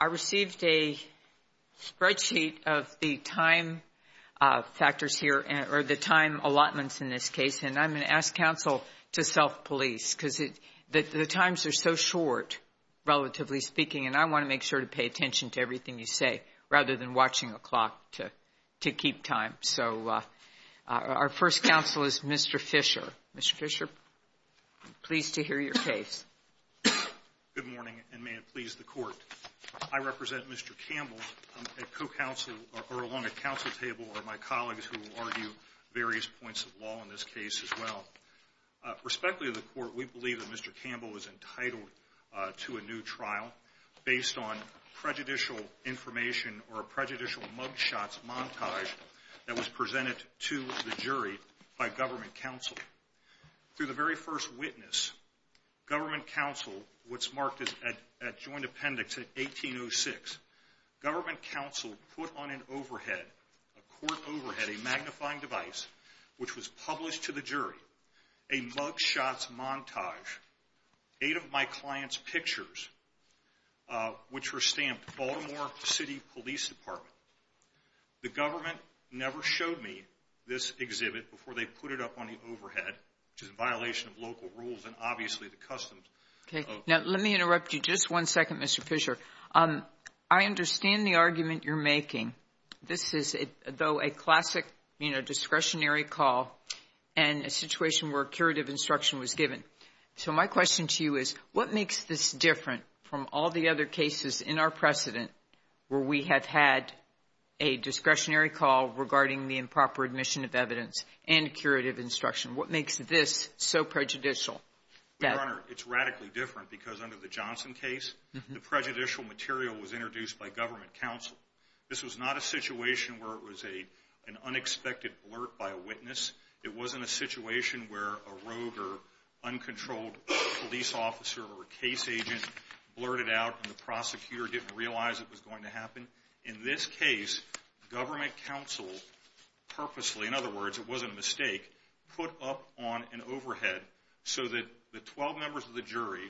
I received a spreadsheet of the time allotments in this case, and I'm going to ask counsel to self-police, because the times are so short, relatively speaking, and I want to make sure to pay attention to everything you say, rather than watching a clock to keep time. So our first counsel is Mr. Fisher. Mr. Fisher, I'm pleased to hear your case. Mr. Fisher Good morning, and may it please the Court. I represent Mr. Campbell. At co-counsel, or along a counsel table, are my colleagues who will argue various points of law in this case as well. Respectfully to the Court, we believe that Mr. Campbell is entitled to a new trial based on prejudicial information or a prejudicial mug shots montage that was presented to the jury by government counsel. Through the very first witness, government counsel, what's marked at joint appendix at 1806, government counsel put on an overhead, a court overhead, a magnifying device, which was published to the jury, a mug shots montage, eight of my client's pictures, which were stamped Baltimore City Police Department. The government never showed me this exhibit before they put it up on the overhead, which is a violation of local rules and obviously the customs. Okay, now let me interrupt you just one second, Mr. Fisher. I understand the argument you're in a situation where curative instruction was given. So my question to you is, what makes this different from all the other cases in our precedent where we have had a discretionary call regarding the improper admission of evidence and curative instruction? What makes this so prejudicial? Your Honor, it's radically different because under the Johnson case, the prejudicial material was introduced by government counsel. This was not a situation where it was an unexpected blurt by a witness. It wasn't a situation where a rogue or uncontrolled police officer or a case agent blurted out and the prosecutor didn't realize it was going to happen. In this case, government counsel purposely, in other words, it wasn't a mistake, put up on an overhead so that the 12 members of the jury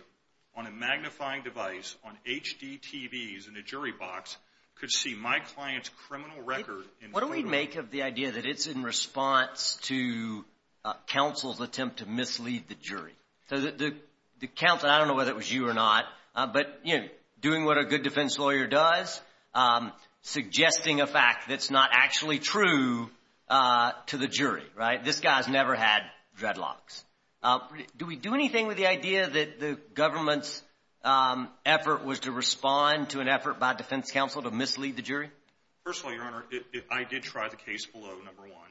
on a magnifying device, on HDTVs in a jury box, could see my client's criminal record in court. What do we make of the idea that it's in response to counsel's attempt to mislead the jury? The counsel, I don't know whether it was you or not, but doing what a good defense lawyer does, suggesting a fact that's not actually true to the jury, right? This guy has never had dreadlocks. Do we do anything with the idea that the government's effort was to respond to an effort by defense counsel to mislead the jury? First of all, Your Honor, I did try the case below, number one.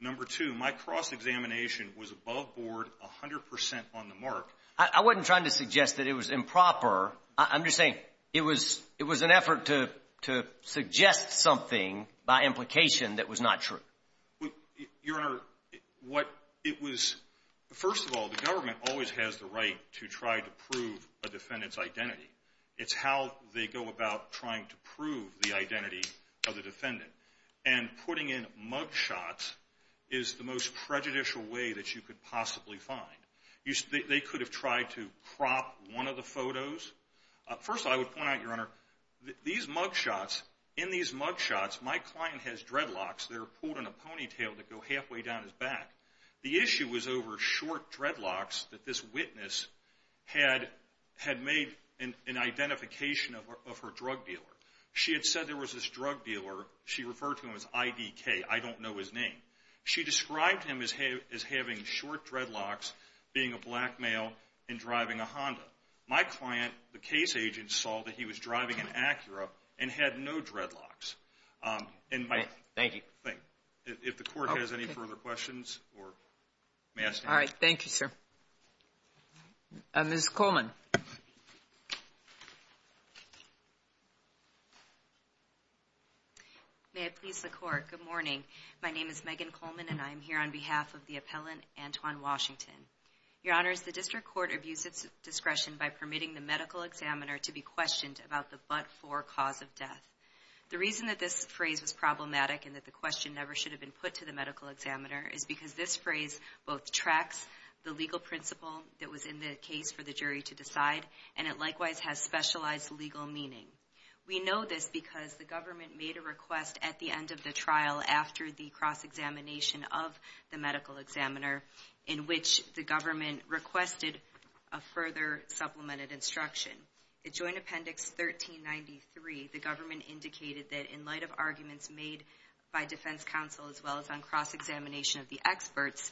Number two, my cross-examination was above board, 100 percent on the mark. I wasn't trying to suggest that it was improper. I'm just saying it was an effort to suggest something by implication that was not true. Your Honor, what it was, first of all, the government always has the right to try to prove the identity of the defendant. And putting in mug shots is the most prejudicial way that you could possibly find. They could have tried to crop one of the photos. First of all, I would point out, Your Honor, these mug shots, in these mug shots, my client has dreadlocks that are pulled in a ponytail that go halfway down his back. The issue was over short dreadlocks that this witness had made an identification of her drug dealer. She had said there was this drug dealer. She referred to him as IDK. I don't know his name. She described him as having short dreadlocks, being a black male, and driving a Honda. My client, the case agent, saw that he was driving an Acura and had no dreadlocks. Thank you. If the court has any further questions, or may I ask you anything? All right, thank you, sir. Ms. Coleman. May it please the Court, good morning. My name is Megan Coleman, and I am here on behalf of the appellant, Antoine Washington. Your Honor, the District Court abused its discretion by permitting the medical examiner to be questioned about the but-for cause of death. The reason that this phrase was problematic and that the question never should have been put to the medical examiner is because this phrase both tracks the legal principle that was in the case for the jury to decide, and it likewise has specialized legal meaning. We know this because the government made a request at the end of the trial after the cross-examination of the medical examiner in which the government requested a further supplemented instruction. In Joint Appendix 1393, the government indicated that in light of arguments made by defense counsel as well as on cross-examination of the experts,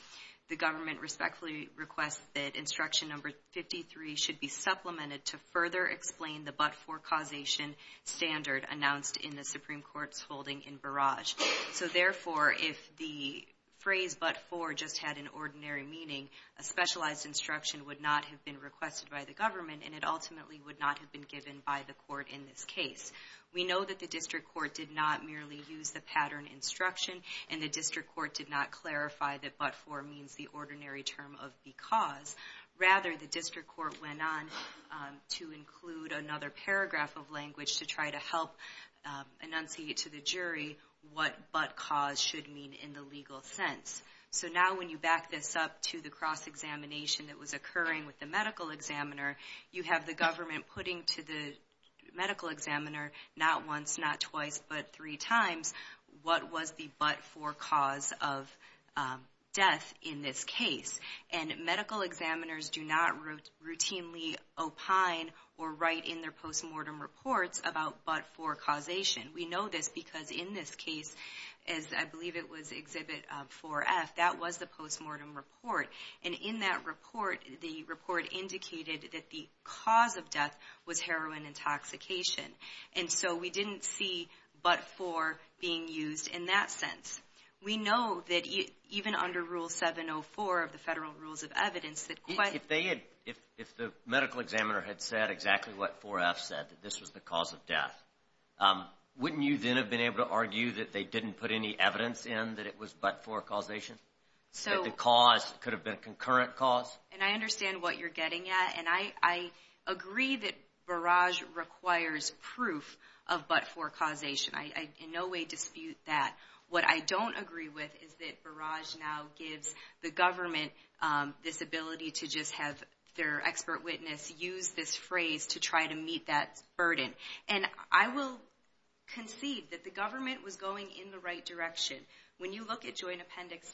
the government respectfully requests that instruction number 53 should be supplemented to further explain the but-for causation standard announced in the Supreme Court's holding in Barrage. So therefore, if the phrase but-for just had an ordinary meaning, a specialized instruction would not have been requested by the government, and it ultimately would not have been given by the court in this case. We know that the district court did not merely use the pattern instruction, and the district court did not clarify that but-for means the ordinary term of because. Rather, the district court went on to include another paragraph of language to try to help enunciate to the jury what but-cause should mean in the legal sense. So now when you back this up to the cross-examination that was occurring with the medical examiner, you have the government putting to the medical examiner not once, not twice, but three times what was the but-for cause of death in this case. And medical examiners do not routinely opine or write in their post-mortem reports about but-for causation. We know this because in this case, as I believe it was Exhibit 4F, that was the post-mortem report. And in that report, the report indicated that the cause of death was heroin intoxication. And so we didn't see but-for being used in that sense. We know that even under Rule 704 of the Federal Rules of Evidence that quite If they had, if the medical examiner had said exactly what 4F said, that this was the cause of death, wouldn't you then have been able to argue that they didn't put any evidence in that it was but-for causation? That the cause could have been a concurrent cause? And I understand what you're getting at. And I agree that barrage requires proof of but-for causation. I in no way dispute that. What I don't agree with is that barrage now gives the government this ability to just have their expert witness use this phrase to try to meet that burden. And I will concede that the government was going in the right direction. When you look at Joint Appendix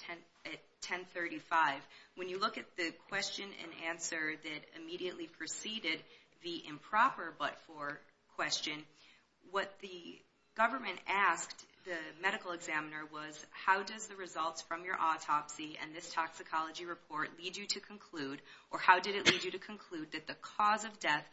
1035, when you look at the question and answer that immediately preceded the improper but-for question, what the government asked the medical examiner was, how does the results from your autopsy and this toxicology report lead you to conclude, or how did it lead you to conclude that the cause of death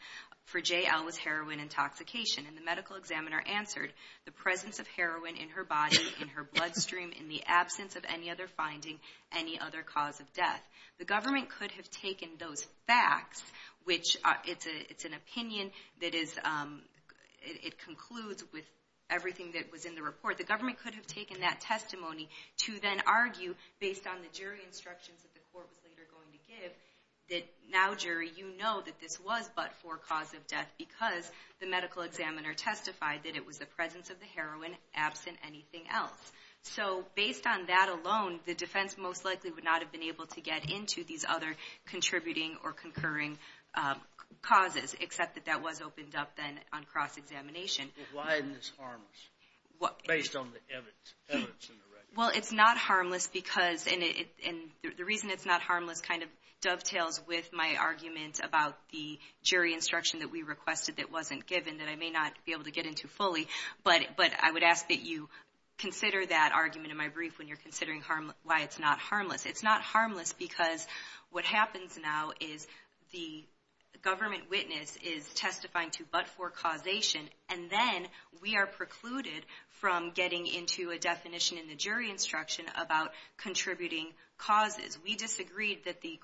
for J.L. was heroin intoxication? And the medical examiner answered, the presence of heroin in her body, in her blood in the absence of any other finding, any other cause of death. The government could have taken those facts, which it's an opinion that concludes with everything that was in the report. The government could have taken that testimony to then argue, based on the jury instructions that the court was later going to give, that now, jury, you know that this was but-for cause of death because the medical examiner testified that it was the presence of the heroin, absent anything else. So based on that alone, the defense most likely would not have been able to get into these other contributing or concurring causes, except that that was opened up then on cross-examination. Why isn't this harmless, based on the evidence in the record? Well, it's not harmless because, and the reason it's not harmless kind of dovetails with my argument about the jury instruction that we requested that wasn't given, that I may not be able to get into fully, but I would ask that you consider that argument in my brief when you're considering why it's not harmless. It's not harmless because what happens now is the government witness is testifying to but-for causation, and then we are precluded from getting into a definition in the jury instruction about contributing causes. We disagreed that the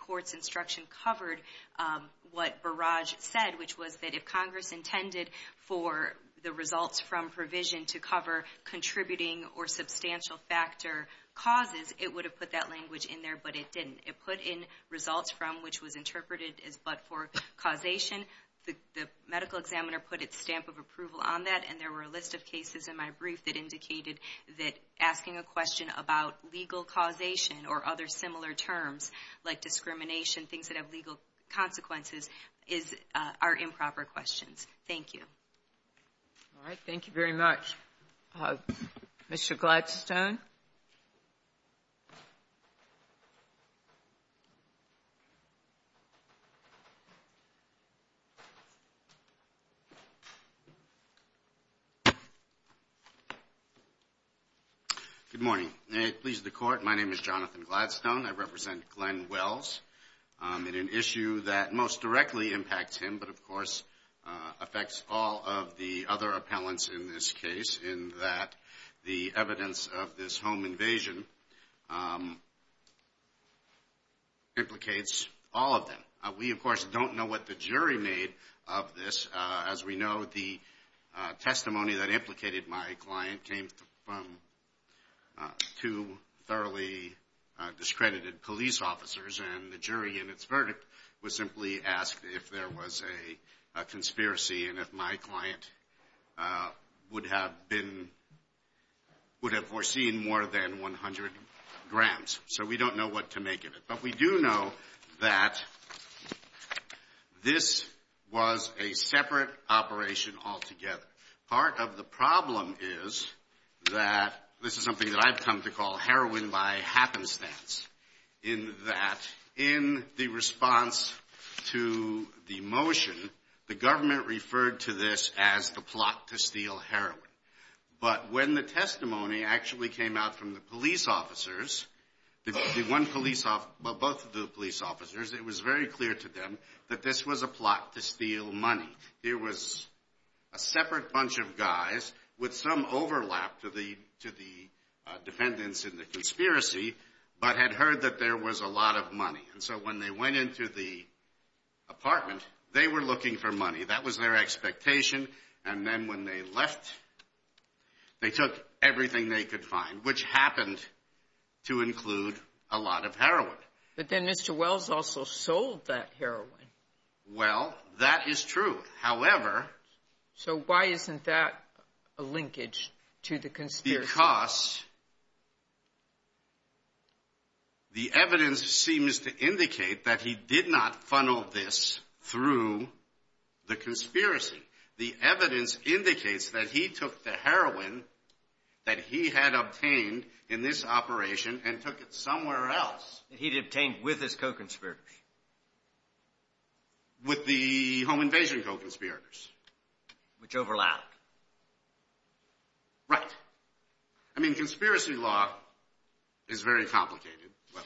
results from provision to cover contributing or substantial factor causes, it would have put that language in there, but it didn't. It put in results from which was interpreted as but-for causation. The medical examiner put its stamp of approval on that, and there were a list of cases in my brief that indicated that asking a question about legal causation or other similar terms, like discrimination, things that have legal consequences, are improper questions. Thank you. All right. Thank you very much. Mr. Gladstone. Good morning. May it please the Court, my name is Jonathan Gladstone. I represent Glenn Wells in an issue that most directly impacts him but, of course, affects all of the other appellants in this case in that the evidence of this home invasion implicates all of them. We, of course, don't know what the jury made of this. As we know, the testimony that implicated my client came from two thoroughly discredited police officers, and the jury in its verdict was simply asked if there was a conspiracy and if my client would have been, would have foreseen more than 100 grams. So we don't know what to make of it. But we do know that this was a separate operation altogether. Part of the problem is that, this is something that I've come to call heroin by happenstance, in that in the response to the motion, the government referred to this as the plot to steal heroin. But when the testimony actually came out from the police officers, the one police officer, both of the police officers, it was very clear to them that this was a plot to steal money. There was a separate bunch of guys with some overlap to the defendants in the conspiracy, but had heard that there was a lot of money. And so when they went into the apartment, they were looking for money. That was their expectation. And then when they left, they took everything they could find, which happened to include a lot of heroin. But then Mr. Wells also sold that heroin. Well, that is true. However... So why isn't that a linkage to the conspiracy? Because the evidence seems to indicate that he did not funnel this through the conspiracy. The evidence indicates that he took the heroin that he had obtained in this operation and took it somewhere else. He'd obtained with his co-conspirators. With the home invasion co-conspirators. Which overlapped. Right. I mean, conspiracy law is very complicated, well,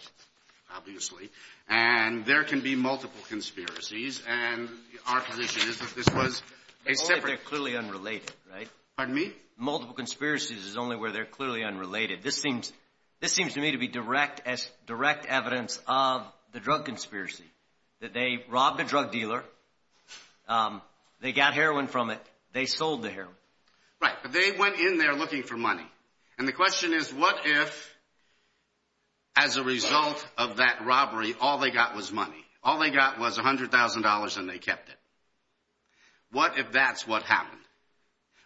obviously. And there can be multiple conspiracies. And our position is that this was a separate... They're clearly unrelated, right? Pardon me? Multiple conspiracies is only where they're clearly unrelated. This seems to me to be direct evidence of the drug conspiracy. That they robbed a drug dealer. They got heroin from it. They sold the heroin. Right. But they went in there looking for money. And the question is, what if, as a result of that robbery, all they got was money? All they got was $100,000 and they kept it. What if that's what happened?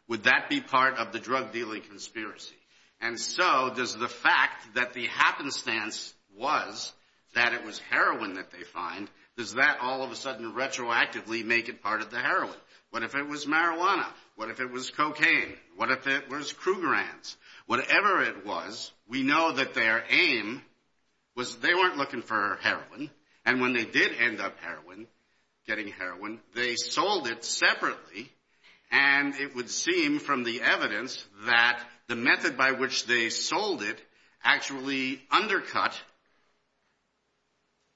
Would that be part of the drug conspiracy? And so, does the fact that the happenstance was that it was heroin that they find, does that all of a sudden retroactively make it part of the heroin? What if it was marijuana? What if it was cocaine? What if it was Krugerrands? Whatever it was, we know that their aim was they weren't looking for heroin. And when they did end up heroin, getting heroin, they sold it separately. And it would seem from the evidence that the method by which they sold it actually undercut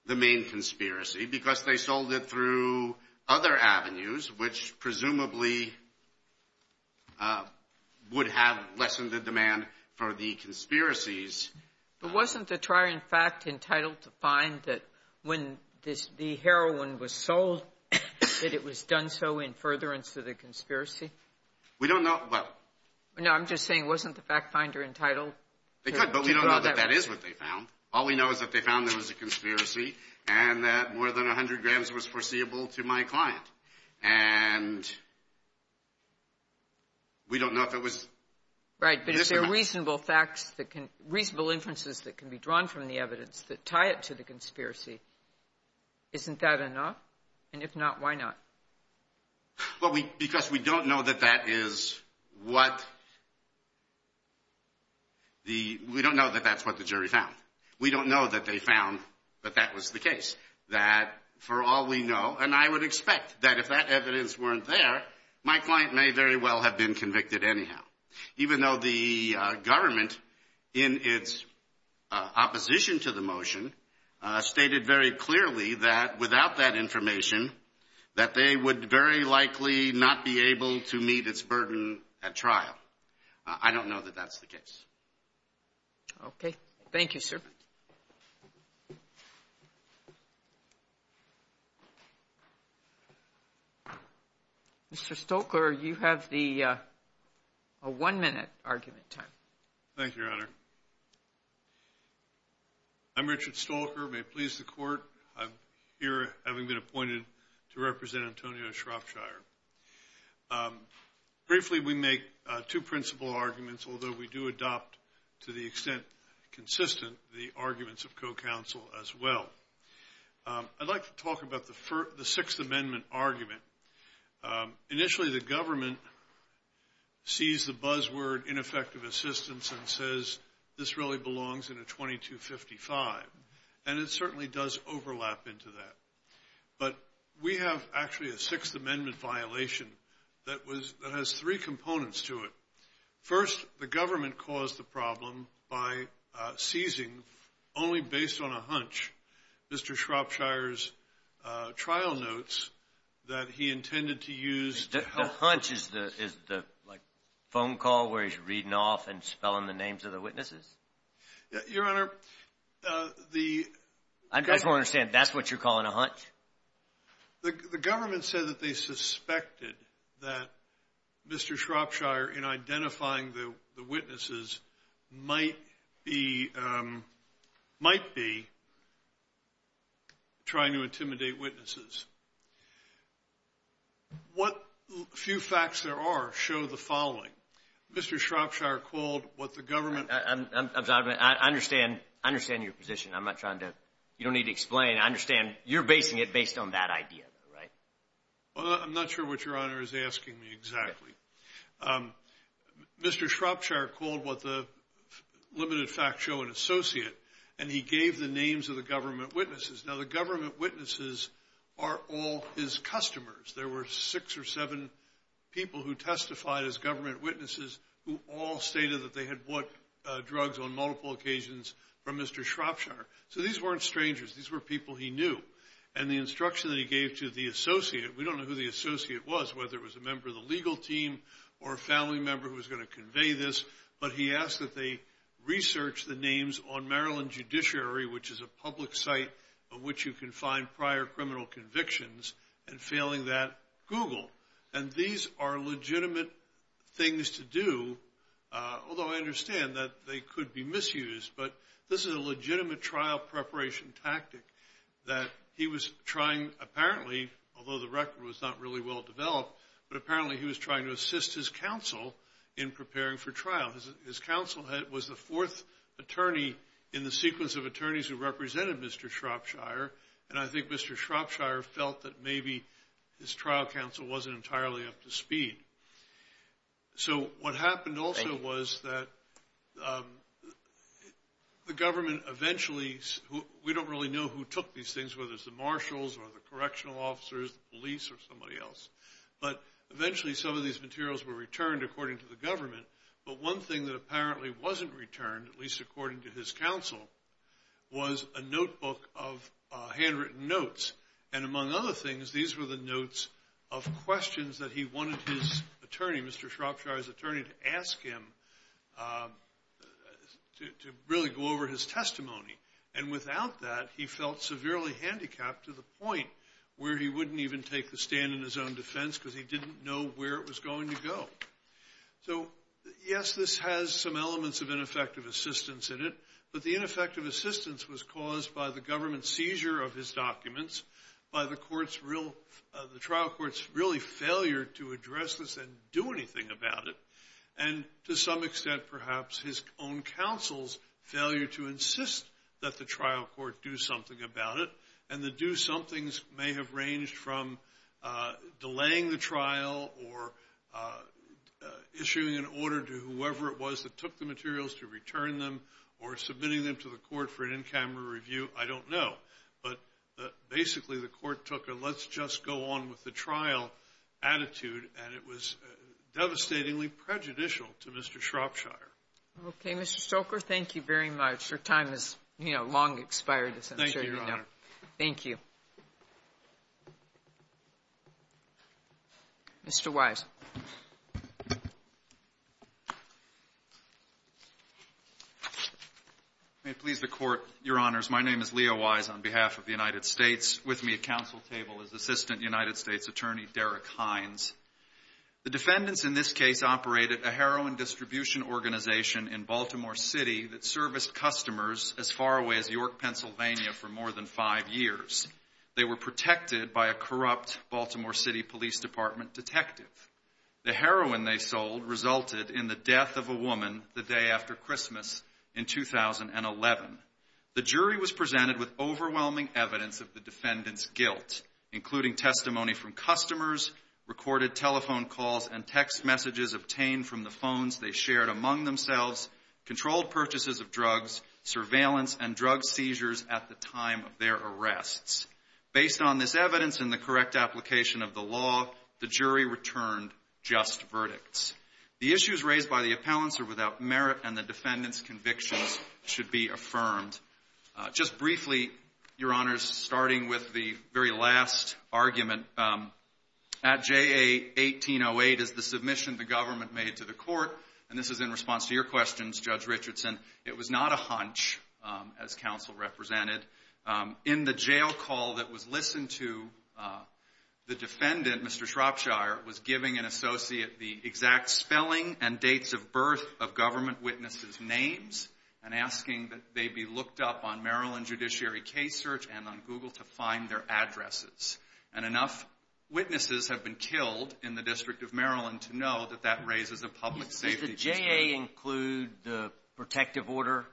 the main conspiracy because they sold it through other avenues, which presumably would have lessened the demand for the conspiracies. But wasn't the trier, in fact, entitled to find that when the heroin was sold that it was done so in furtherance to the conspiracy? We don't know. No, I'm just saying, wasn't the fact finder entitled? They could, but we don't know that that is what they found. All we know is that they found there was a conspiracy and that more than 100 grams was foreseeable to my client. And we don't know if it was. Right. But is there reasonable facts that can reasonable inferences that can be drawn from the evidence that tie it to the conspiracy? Isn't that enough? And if not, why not? Well, we because we don't know that that is what the we don't know that that's what the jury found. We don't know that they found that that was the case that for all we know. And I would expect that if that evidence weren't there, my client may very well have been convicted anyhow, even though the government in its opposition to the motion stated very clearly that without that information, that they would very likely not be able to meet its burden at trial. I don't know that that's the case. Okay. Thank you, sir. Mr. Stoker, you have the one minute argument time. Thank you, Your Honor. I'm Richard Stoker. May it please the court. I'm here having been appointed to represent Antonio Shropshire. Briefly, we make two principal arguments, although we do adopt to the extent consistent the arguments of co-counsel as well. I'd like to talk about the first, the Sixth Amendment argument. Initially, the government sees the buzzword ineffective assistance and says this really belongs in a 2255. And it certainly does overlap into that. But we have actually a Sixth Amendment violation that was that has three components to it. First, the government caused the problem by seizing, only based on a hunch, Mr. Shropshire's trial notes that he intended to use to help. The hunch is the phone call where he's reading off and spelling the names of the witnesses? Your Honor, the – I just want to understand, that's what you're calling a hunch? The government said that they suspected that Mr. Shropshire, in identifying the witnesses, might be – might be trying to intimidate witnesses. What few facts there are show the following. Mr. Shropshire called what the government – I understand – I understand your position. I'm not trying to – you don't need to explain. I understand you're basing it based on that idea, right? Well, I'm not sure what your Honor is asking me exactly. Mr. Shropshire called what the limited fact show an associate, and he gave the names of the government witnesses. Now, the government witnesses are all his customers. There were six or seven people who testified as government witnesses who all stated that they had bought drugs on multiple occasions from Mr. Shropshire. So, these weren't strangers. These were people he knew. And the instruction that the associate – we don't know who the associate was, whether it was a member of the legal team or a family member who was going to convey this, but he asked that they research the names on Maryland Judiciary, which is a public site of which you can find prior criminal convictions, and failing that, Google. And these are legitimate things to do, although I understand that they could be misused, but this is a legitimate trial preparation tactic that he was trying, apparently, although the record was not really well developed, but apparently he was trying to assist his counsel in preparing for trial. His counsel was the fourth attorney in the sequence of attorneys who represented Mr. Shropshire, and I think Mr. Shropshire felt that maybe his trial counsel wasn't entirely up to speed. So, what happened also was that the government eventually – we don't really know who took these things, whether it's the marshals or the correctional officers, the police, or somebody else, but eventually some of these materials were returned according to the government. But one thing that apparently wasn't returned, at least according to his counsel, was a notebook of handwritten notes. And among other things, these were the notes of questions that he wanted his attorney, Mr. Shropshire's attorney, to really go over his testimony. And without that, he felt severely handicapped to the point where he wouldn't even take the stand in his own defense because he didn't know where it was going to go. So, yes, this has some elements of ineffective assistance in it, but the ineffective assistance was caused by the government seizure of his documents, by the trial court's really failure to address this and do anything about it, and to some extent perhaps his own counsel's failure to insist that the trial court do something about it. And the do-somethings may have ranged from delaying the trial or issuing an order to whoever it was that took the materials to return them or submitting them to the court for an in-camera review. I don't know. But basically, the court took a let's just go on with the trial attitude, and it was devastatingly prejudicial to Mr. Shropshire. Okay. Mr. Stoker, thank you very much. Your time has, you know, long expired, as I'm sure you know. Thank you, Your Honor. Thank you. Mr. Wise. May it please the Court, Your Honors, my name is Leo Wise on behalf of the United States. With me at counsel table is Assistant United States Attorney Derek Hines. The defendants in this case operated a heroin distribution organization in Baltimore City that serviced customers as far away as York, Pennsylvania, for more than five years. They were protected by a corrupt Baltimore City Police Department detective. The heroin they sold resulted in the death of a woman the day after Christmas in 2011. The jury was presented with overwhelming evidence of the defendant's guilt, including testimony from customers, recorded telephone calls, and text messages obtained from the phones they shared among themselves, controlled purchases of drugs, surveillance, and drug seizures at the time of their arrests. Based on this evidence and the correct application of the law, the jury returned just verdicts. The issues raised by the appellants are without merit, and the defendant's convictions should be affirmed. Just briefly, Your Honors, starting with the very last argument, at J.A. 1808 is the submission the government made to the court, and this is in response to your questions, Judge Richardson. It was not a hunch, as counsel represented. In the jail call that was listened to, the defendant, Mr. Shropshire, was giving an associate the exact spelling and dates of birth of government witnesses' names and asking that they be looked up on Maryland Judiciary Case Search and on Google to find their addresses. And enough witnesses have been killed in the District of Maryland to know that that raises a public safety concern. Does the J.A. include the protective order,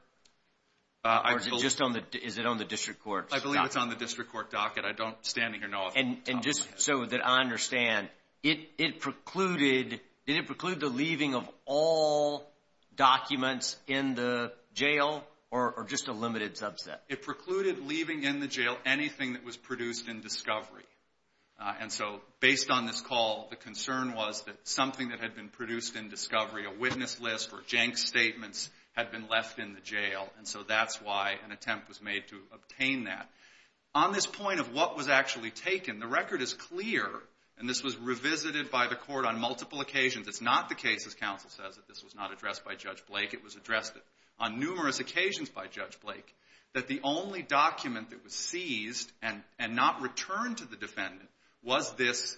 or is it just on the District Court? I believe it's on the District Court docket. I don't, standing here, know. And just so that I It precluded leaving in the jail anything that was produced in discovery. And so based on this call, the concern was that something that had been produced in discovery, a witness list or jank statements, had been left in the jail. And so that's why an attempt was made to obtain that. On this point of what was actually taken, the record is clear, and this was revisited by the court on multiple occasions. It's not the case, as counsel says, that this was not addressed by that the only document that was seized and not returned to the defendant was this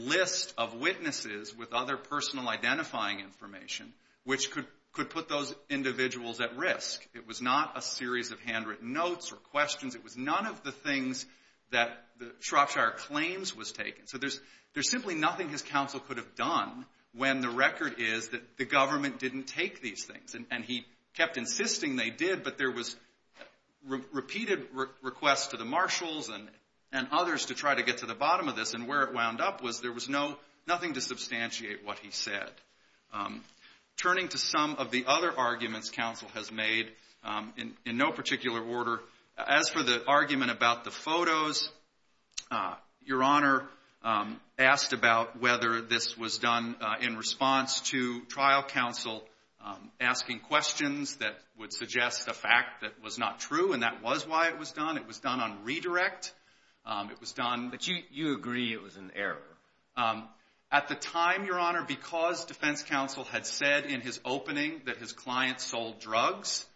list of witnesses with other personal identifying information, which could put those individuals at risk. It was not a series of handwritten notes or questions. It was none of the things that the Shropshire claims was taken. So there's simply nothing his counsel could have done when the record is that the government didn't take these things. And he kept insisting they did, but there was repeated requests to the marshals and others to try to get to the bottom of this. And where it wound up was there was nothing to substantiate what he said. Turning to some of the other arguments counsel has made, in no particular order, as for the argument about the photos, Your Honor asked about whether this was done in response to trial counsel asking questions that would suggest a fact that was not true, and that was why it was done. It was done on redirect. It was done. But you agree it was an error. At the time, Your Honor, because defense counsel had said in his opening that his client sold drugs,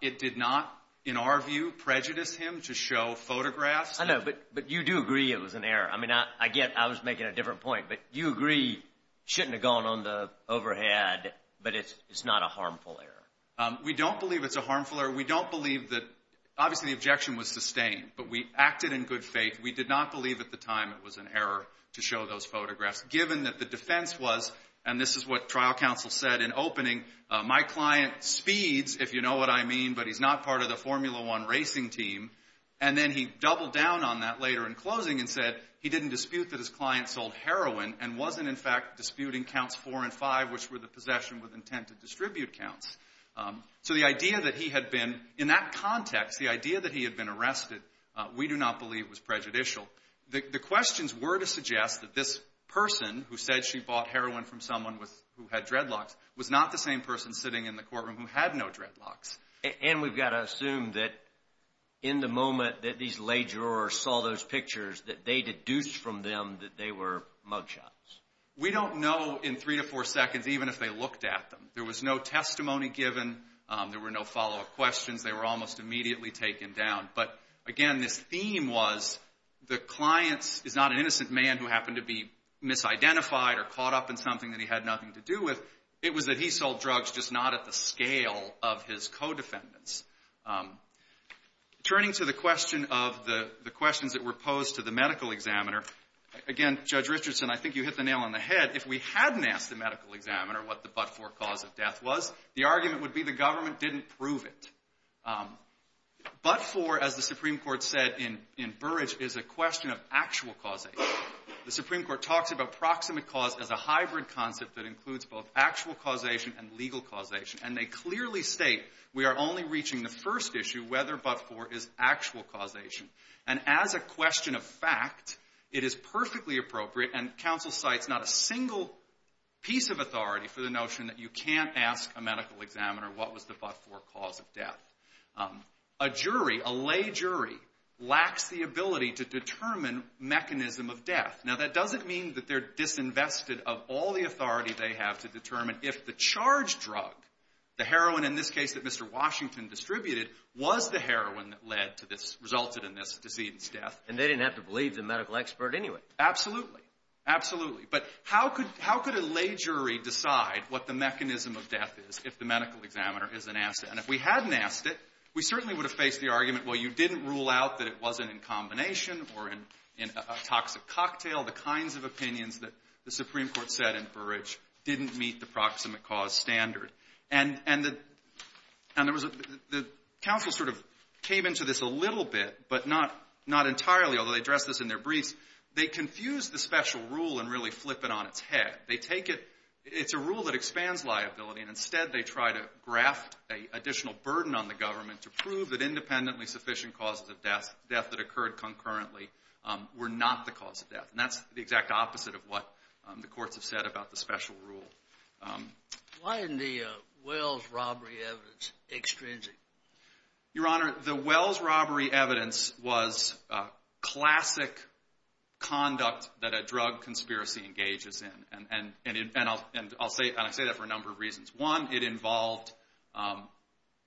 it did not, in our view, prejudice him to show photographs. I know, but you do agree it was an error. I mean, I get I was making a different point, but you agree it shouldn't have gone on the overhead, but it's not a harmful error. We don't believe it's a harmful error. We don't believe that obviously the objection was sustained, but we acted in good faith. We did not believe at the time it was an error to show those photographs, given that the defense was, and this is what trial counsel said in opening, my client speeds, if you know what I mean, but he's not part of the Formula One racing team. And then he doubled down on that later in closing and said he didn't dispute that his client sold heroin and wasn't, in fact, disputing counts four and five, which were the possession with intent to distribute counts. So the idea that he had been, in that context, the idea that he had been arrested, we do not believe was prejudicial. The questions were to suggest that this person who said she bought heroin from someone with who had dreadlocks was not the same person sitting in the courtroom who had no dreadlocks. And we've got to assume that in the moment that these lay jurors saw those pictures that they deduced from them that they were mugshots. We don't know in three to four seconds even if they looked at them. There was no testimony given. There were no follow-up questions. They were almost immediately taken down. But again, this theme was the client is not an innocent man who happened to be misidentified or caught up in something that he had nothing to do with. It was that he sold drugs, just not at the scale of his co-defendants. Turning to the question of the questions that were posed to the medical examiner, again, Judge Richardson, I think you hit the nail on the head. If we hadn't asked the medical examiner what the but-for cause of death was, the argument would be the government didn't prove it. But-for, as the Supreme Court said in Burrage, is a question of actual causation. The Supreme Court talks about proximate cause as a hybrid concept that includes both actual causation and legal causation. And they clearly state we are only reaching the first issue, whether but-for is actual causation. And as a question of fact, it is perfectly appropriate, and counsel cites not a single piece of authority for the notion that you can't ask a medical examiner what was the but-for cause of death. A jury, a lay jury, lacks the ability to determine mechanism of death. Now, that doesn't mean that they're disinvested of all the authority they have to determine if the charge drug, the heroin in this case that Mr. Washington distributed, was the heroin that led to this, resulted in this decedent's death. And they didn't have to believe the medical expert anyway. Absolutely. Absolutely. But how could a lay jury decide what the mechanism of death is if the medical examiner isn't asked it? And if we hadn't asked it, we certainly would have faced the argument, well, you didn't rule out that it wasn't in combination or in a toxic cocktail, the kinds of opinions that the Supreme Court said in Burrage didn't meet the proximate cause standard. And there was a — the counsel sort of came into this a little bit, but not entirely, although they addressed this in their briefs. They confused the special rule and really flip it on its head. They take it — it's a rule that expands liability, and instead they try to graft an additional burden on the government to prove that independently sufficient causes of concurrently were not the cause of death. And that's the exact opposite of what the courts have said about the special rule. Why isn't the Wells robbery evidence extrinsic? Your Honor, the Wells robbery evidence was classic conduct that a drug conspiracy engages in, and I'll say that for a number of reasons. One, it involved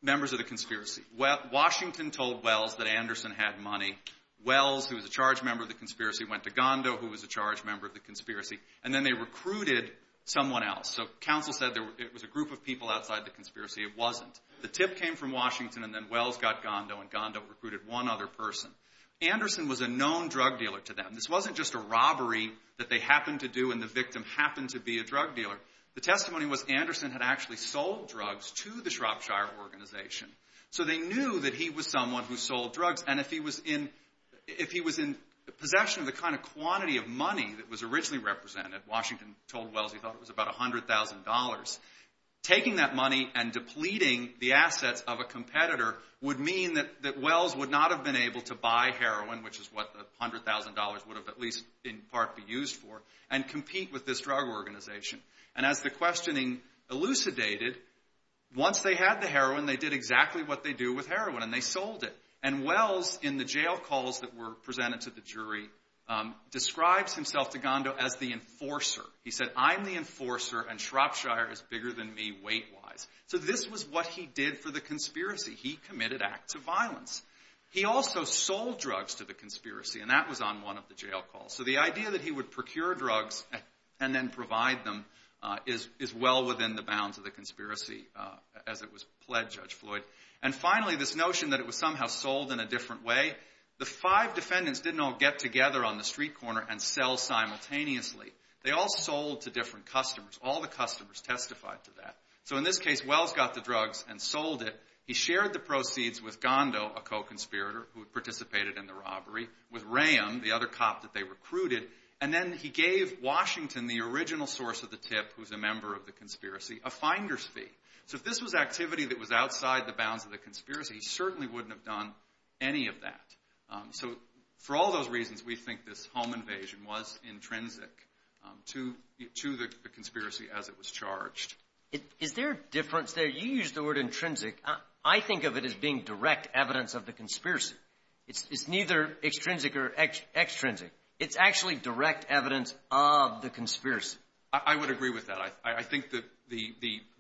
members of the conspiracy. Washington told Wells that Anderson had money. Wells, who was a charged member of the conspiracy, went to Gondo, who was a charged member of the conspiracy, and then they recruited someone else. So counsel said it was a group of people outside the conspiracy. It wasn't. The tip came from Washington, and then Wells got Gondo, and Gondo recruited one other person. Anderson was a known drug dealer to them. This wasn't just a robbery that they happened to do and the victim happened to be a drug dealer. The testimony was Anderson had actually sold drugs to the Shropshire organization. So they knew that he was someone who sold drugs, and if he was in possession of the kind of quantity of money that was originally represented, Washington told Wells he thought it was about $100,000, taking that money and depleting the assets of a competitor would mean that Wells would not have been able to buy heroin, which is what the $100,000 would have at least in part be used for, and compete with this drug organization. And as the questioning elucidated, once they had the heroin, they did exactly what they do with heroin, and they sold it. And Wells, in the jail calls that were presented to the jury, describes himself to Gondo as the enforcer. He said, I'm the enforcer and Shropshire is bigger than me weight-wise. So this was what he did for the conspiracy. He committed acts of violence. He also sold drugs to the conspiracy, and that was on one of the jail calls. So the idea that he would procure drugs and then provide them is well within the bounds of the conspiracy as it was pledged, Judge Floyd. And finally, this notion that it was somehow sold in a different way. The five defendants didn't all get together on the street corner and sell simultaneously. They all sold to different customers. All the customers testified to that. So in this case, Wells got the drugs and sold it. He shared the proceeds with Gondo, a co-conspirator who participated in the robbery, with Ram, the other cop that they recruited, and then he gave Washington, the original source of the tip who's a member of the conspiracy, a finder's fee. So if this was activity that was outside the bounds of the conspiracy, he certainly wouldn't have done any of that. So for all those reasons, we think this home invasion was intrinsic to the conspiracy as it was charged. Is there a difference there? You used the word intrinsic. I think of it as being direct evidence of the conspiracy. It's neither extrinsic or extrinsic. It's actually direct evidence of the conspiracy. I would agree with that. I think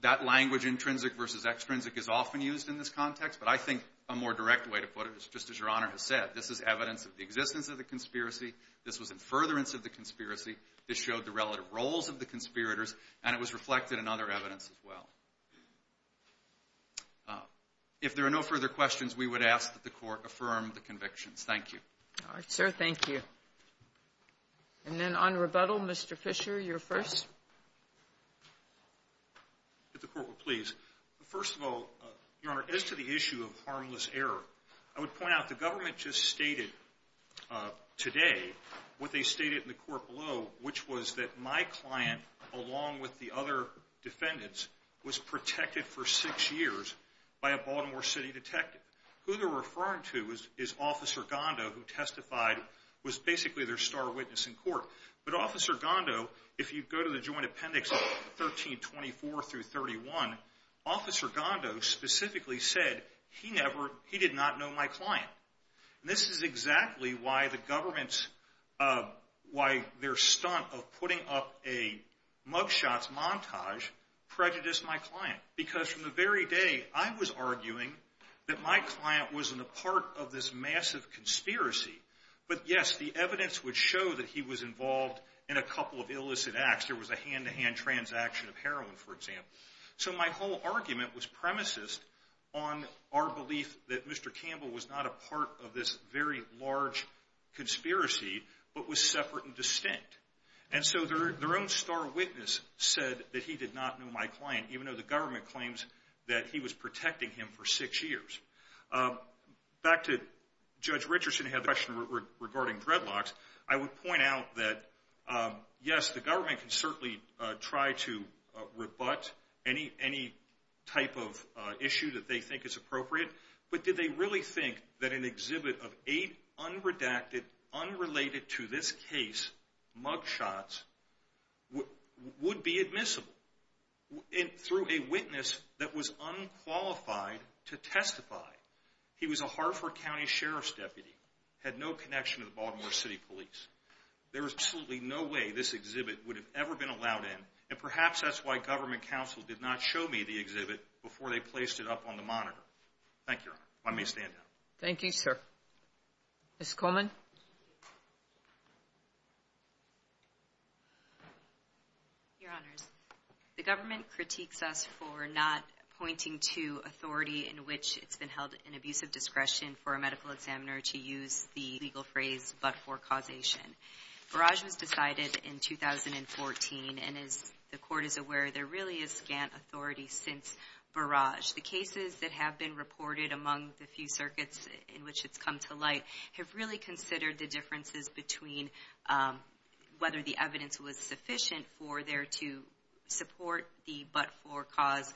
that language intrinsic versus extrinsic is often used in this context, but I think a more direct way to put it is, just as Your Honor has said, this is evidence of the existence of the conspiracy, this was in furtherance of the conspiracy, this showed the relative roles of the conspirators, and it was reflected in other evidence as well. If there are no further questions, we would ask that the Court affirm the convictions. Thank you. All right, sir. Thank you. And then on rebuttal, Mr. Fisher, you're first. If the Court would please. First of all, Your Honor, as to the issue of harmless error, I would point out the government just stated today what they stated in the court below, which was that my client, along with the other defendants, was protected for six years by a Baltimore City detective. Who they're referring to is Officer Gondo, who testified, was basically their star witness in court. But Officer Gondo, if you go to the joint appendix of 1324 through 31, Officer Gondo specifically said he never, he did not know my client. This is exactly why the government's, why their stunt of putting up a mug shots montage prejudiced my client. Because from the very day I was arguing that my client wasn't a part of this yes, the evidence would show that he was involved in a couple of illicit acts. There was a hand-to-hand transaction of heroin, for example. So my whole argument was premises on our belief that Mr. Campbell was not a part of this very large conspiracy, but was separate and distinct. And so their own star witness said that he did not know my client, even though the government claims that he was protecting him for six years. Back to Judge Richardson had the question regarding dreadlocks. I would point out that, yes, the government can certainly try to rebut any type of issue that they think is appropriate. But did they really think that an exhibit of eight unredacted, unrelated to this case, mug shots would be admissible through a witness that was unqualified to testify? He was a Hartford County Sheriff's deputy, had no connection to the Baltimore City Police. There was absolutely no way this exhibit would have ever been allowed in. And perhaps that's why government counsel did not show me the exhibit before they placed it up on the monitor. Thank you, Your Honor. Let me stand down. Thank you, sir. Ms. Coleman? Your Honors, the government critiques us for not pointing to authority in which it's been held in abusive discretion for a medical examiner to use the legal phrase, but for causation. Barrage was decided in 2014, and as the Court is aware, there really is scant authority since Barrage. The cases that have been reported among the few circuits in which it's come to light have really considered the differences between whether the evidence was sufficient for there to support the but-for cause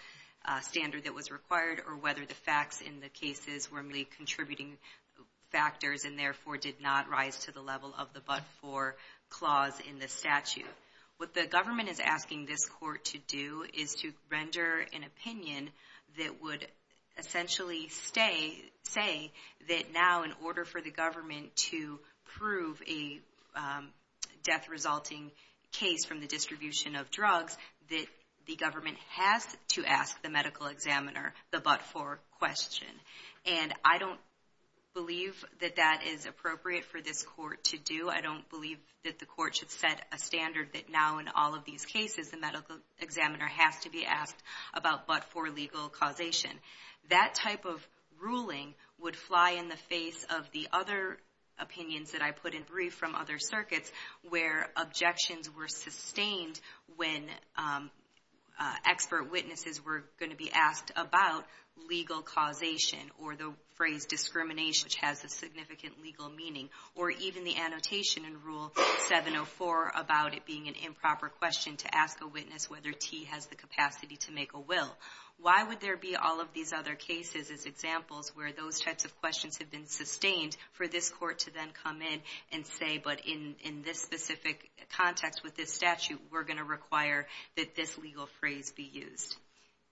standard that was required, or whether the facts in the cases were really contributing factors and therefore did not rise to the level of the but-for clause in the statute. What the government is asking this Court to do is to render an opinion that would essentially say that now, in order for the government to prove a death-resulting case from the distribution of drugs, that the government has to ask the medical examiner the but-for question. And I don't believe that that is appropriate for this Court to do. I don't believe that the Court should set a standard that now, in all of these cases, the medical examiner has to be asked about but-for legal causation. That type of ruling would fly in the face of the other opinions that I put in brief from other circuits, where objections were sustained when expert witnesses were going to be asked about legal causation, or the phrase discrimination, which has a significant legal meaning, or even the annotation in Rule 704 about it being an improper question to ask a witness whether T has the capacity to make a will. Why would there be all of these other cases as examples where those types of questions have been sustained for this Court to then come in and say, but in this specific context with this statute, we're going to require that this legal phrase be used.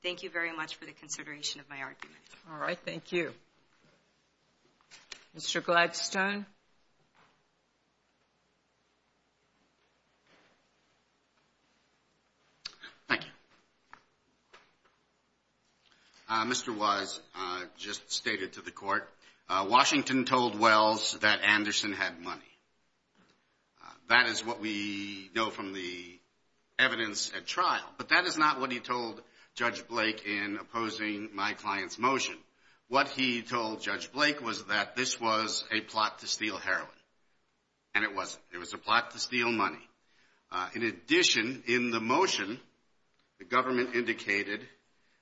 Thank you very much for the consideration of my argument. All right. Thank you. Mr. Gladstone. Thank you. Mr. Wise just stated to the Court, Washington told Wells that Anderson had money. That is what we know from the evidence at trial. But that is not what he told Judge Blake in opposing my client's motion. What he told Judge Blake was that this was a plot to steal heroin. And it wasn't. It was a plot to steal money. In addition, in the motion, the government indicated,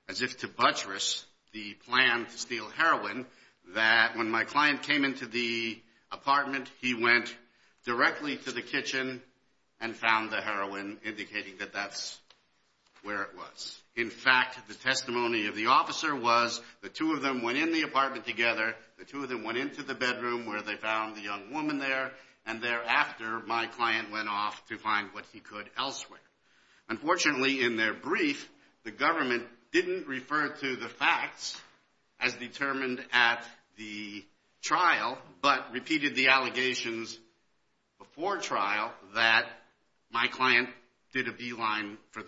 as if to buttress the plan to steal heroin, that when my client came into the apartment, he went directly to the kitchen and found the heroin, indicating that that's where it was. In fact, the testimony of the officer was the two of them went in the apartment together. The two of them went into the bedroom where they found the young woman there. And thereafter, my client went off to find what he could elsewhere. Unfortunately, in their brief, the government didn't refer to the facts as determined at the trial, but repeated the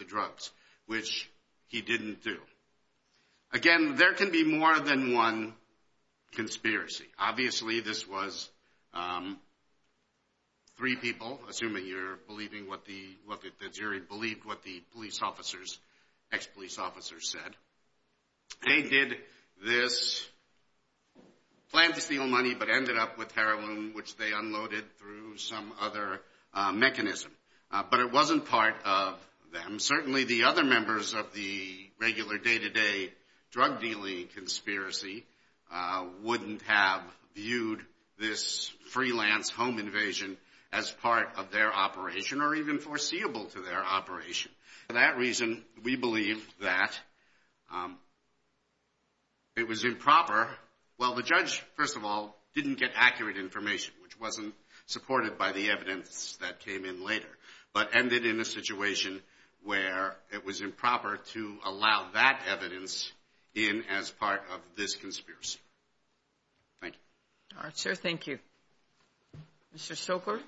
drugs, which he didn't do. Again, there can be more than one conspiracy. Obviously, this was three people, assuming you're believing what the jury believed what the police officers, ex-police officers said. They did this, planned to steal money, but ended up with heroin, which they unloaded through some other mechanism. But it wasn't part of them. Certainly, the other members of the regular day-to-day drug dealing conspiracy wouldn't have viewed this freelance home invasion as part of their operation or even foreseeable to their operation. For that reason, we believe that it was improper. Well, the judge, first of all, didn't get accurate information, which wasn't supported by the evidence that came in later, but ended in a situation where it was improper to allow that evidence in as part of this conspiracy. Thank you. All right, sir. Thank you. Mr. Stoker?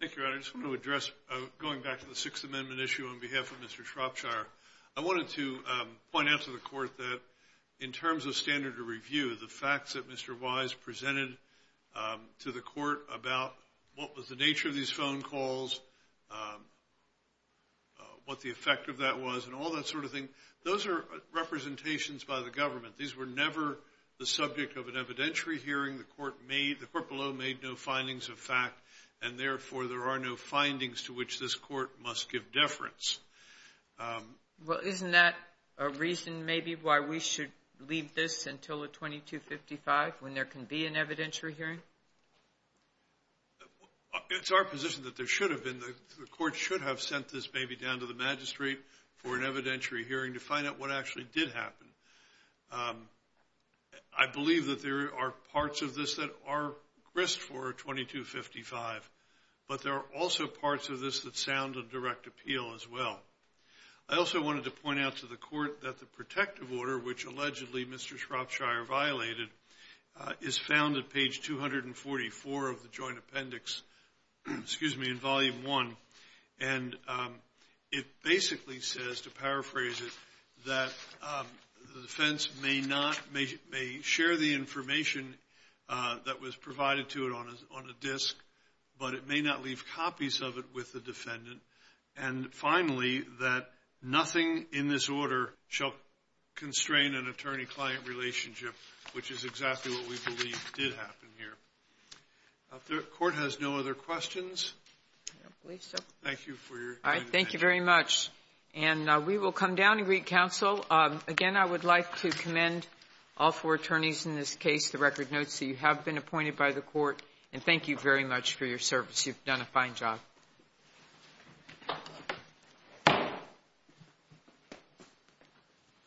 Thank you, Your Honor. I just want to address, going back to the Sixth Amendment issue on to point out to the Court that, in terms of standard of review, the facts that Mr. Wise presented to the Court about what was the nature of these phone calls, what the effect of that was, and all that sort of thing, those are representations by the government. These were never the subject of an evidentiary hearing. The Court below made no findings of fact, and, therefore, there are no findings to which this Court must give deference. Well, isn't that a reason, maybe, why we should leave this until the 2255 when there can be an evidentiary hearing? It's our position that there should have been. The Court should have sent this maybe down to the magistrate for an evidentiary hearing to find out what actually did happen. I believe that there are parts of this that are grist for 2255, but there are also parts of this that sound of direct appeal as well. I also wanted to point out to the Court that the protective order, which, allegedly, Mr. Shropshire violated, is found at page 244 of the Joint Appendix, excuse me, in Volume I, and it basically says, to paraphrase it, that the defense may not may share the information that was provided to it on a disk, but it may not leave copies of it with the defendant. And, finally, that nothing in this order shall constrain an attorney-client relationship, which is exactly what we believe did happen here. If the Court has no other questions? I don't believe so. Thank you for your time. Thank you very much. And we will come down and greet counsel. Again, I would like to commend all four attorneys in this case. The record notes that you have been appointed by the Court. And thank you very much for your service. You've done a fine job. Thank you.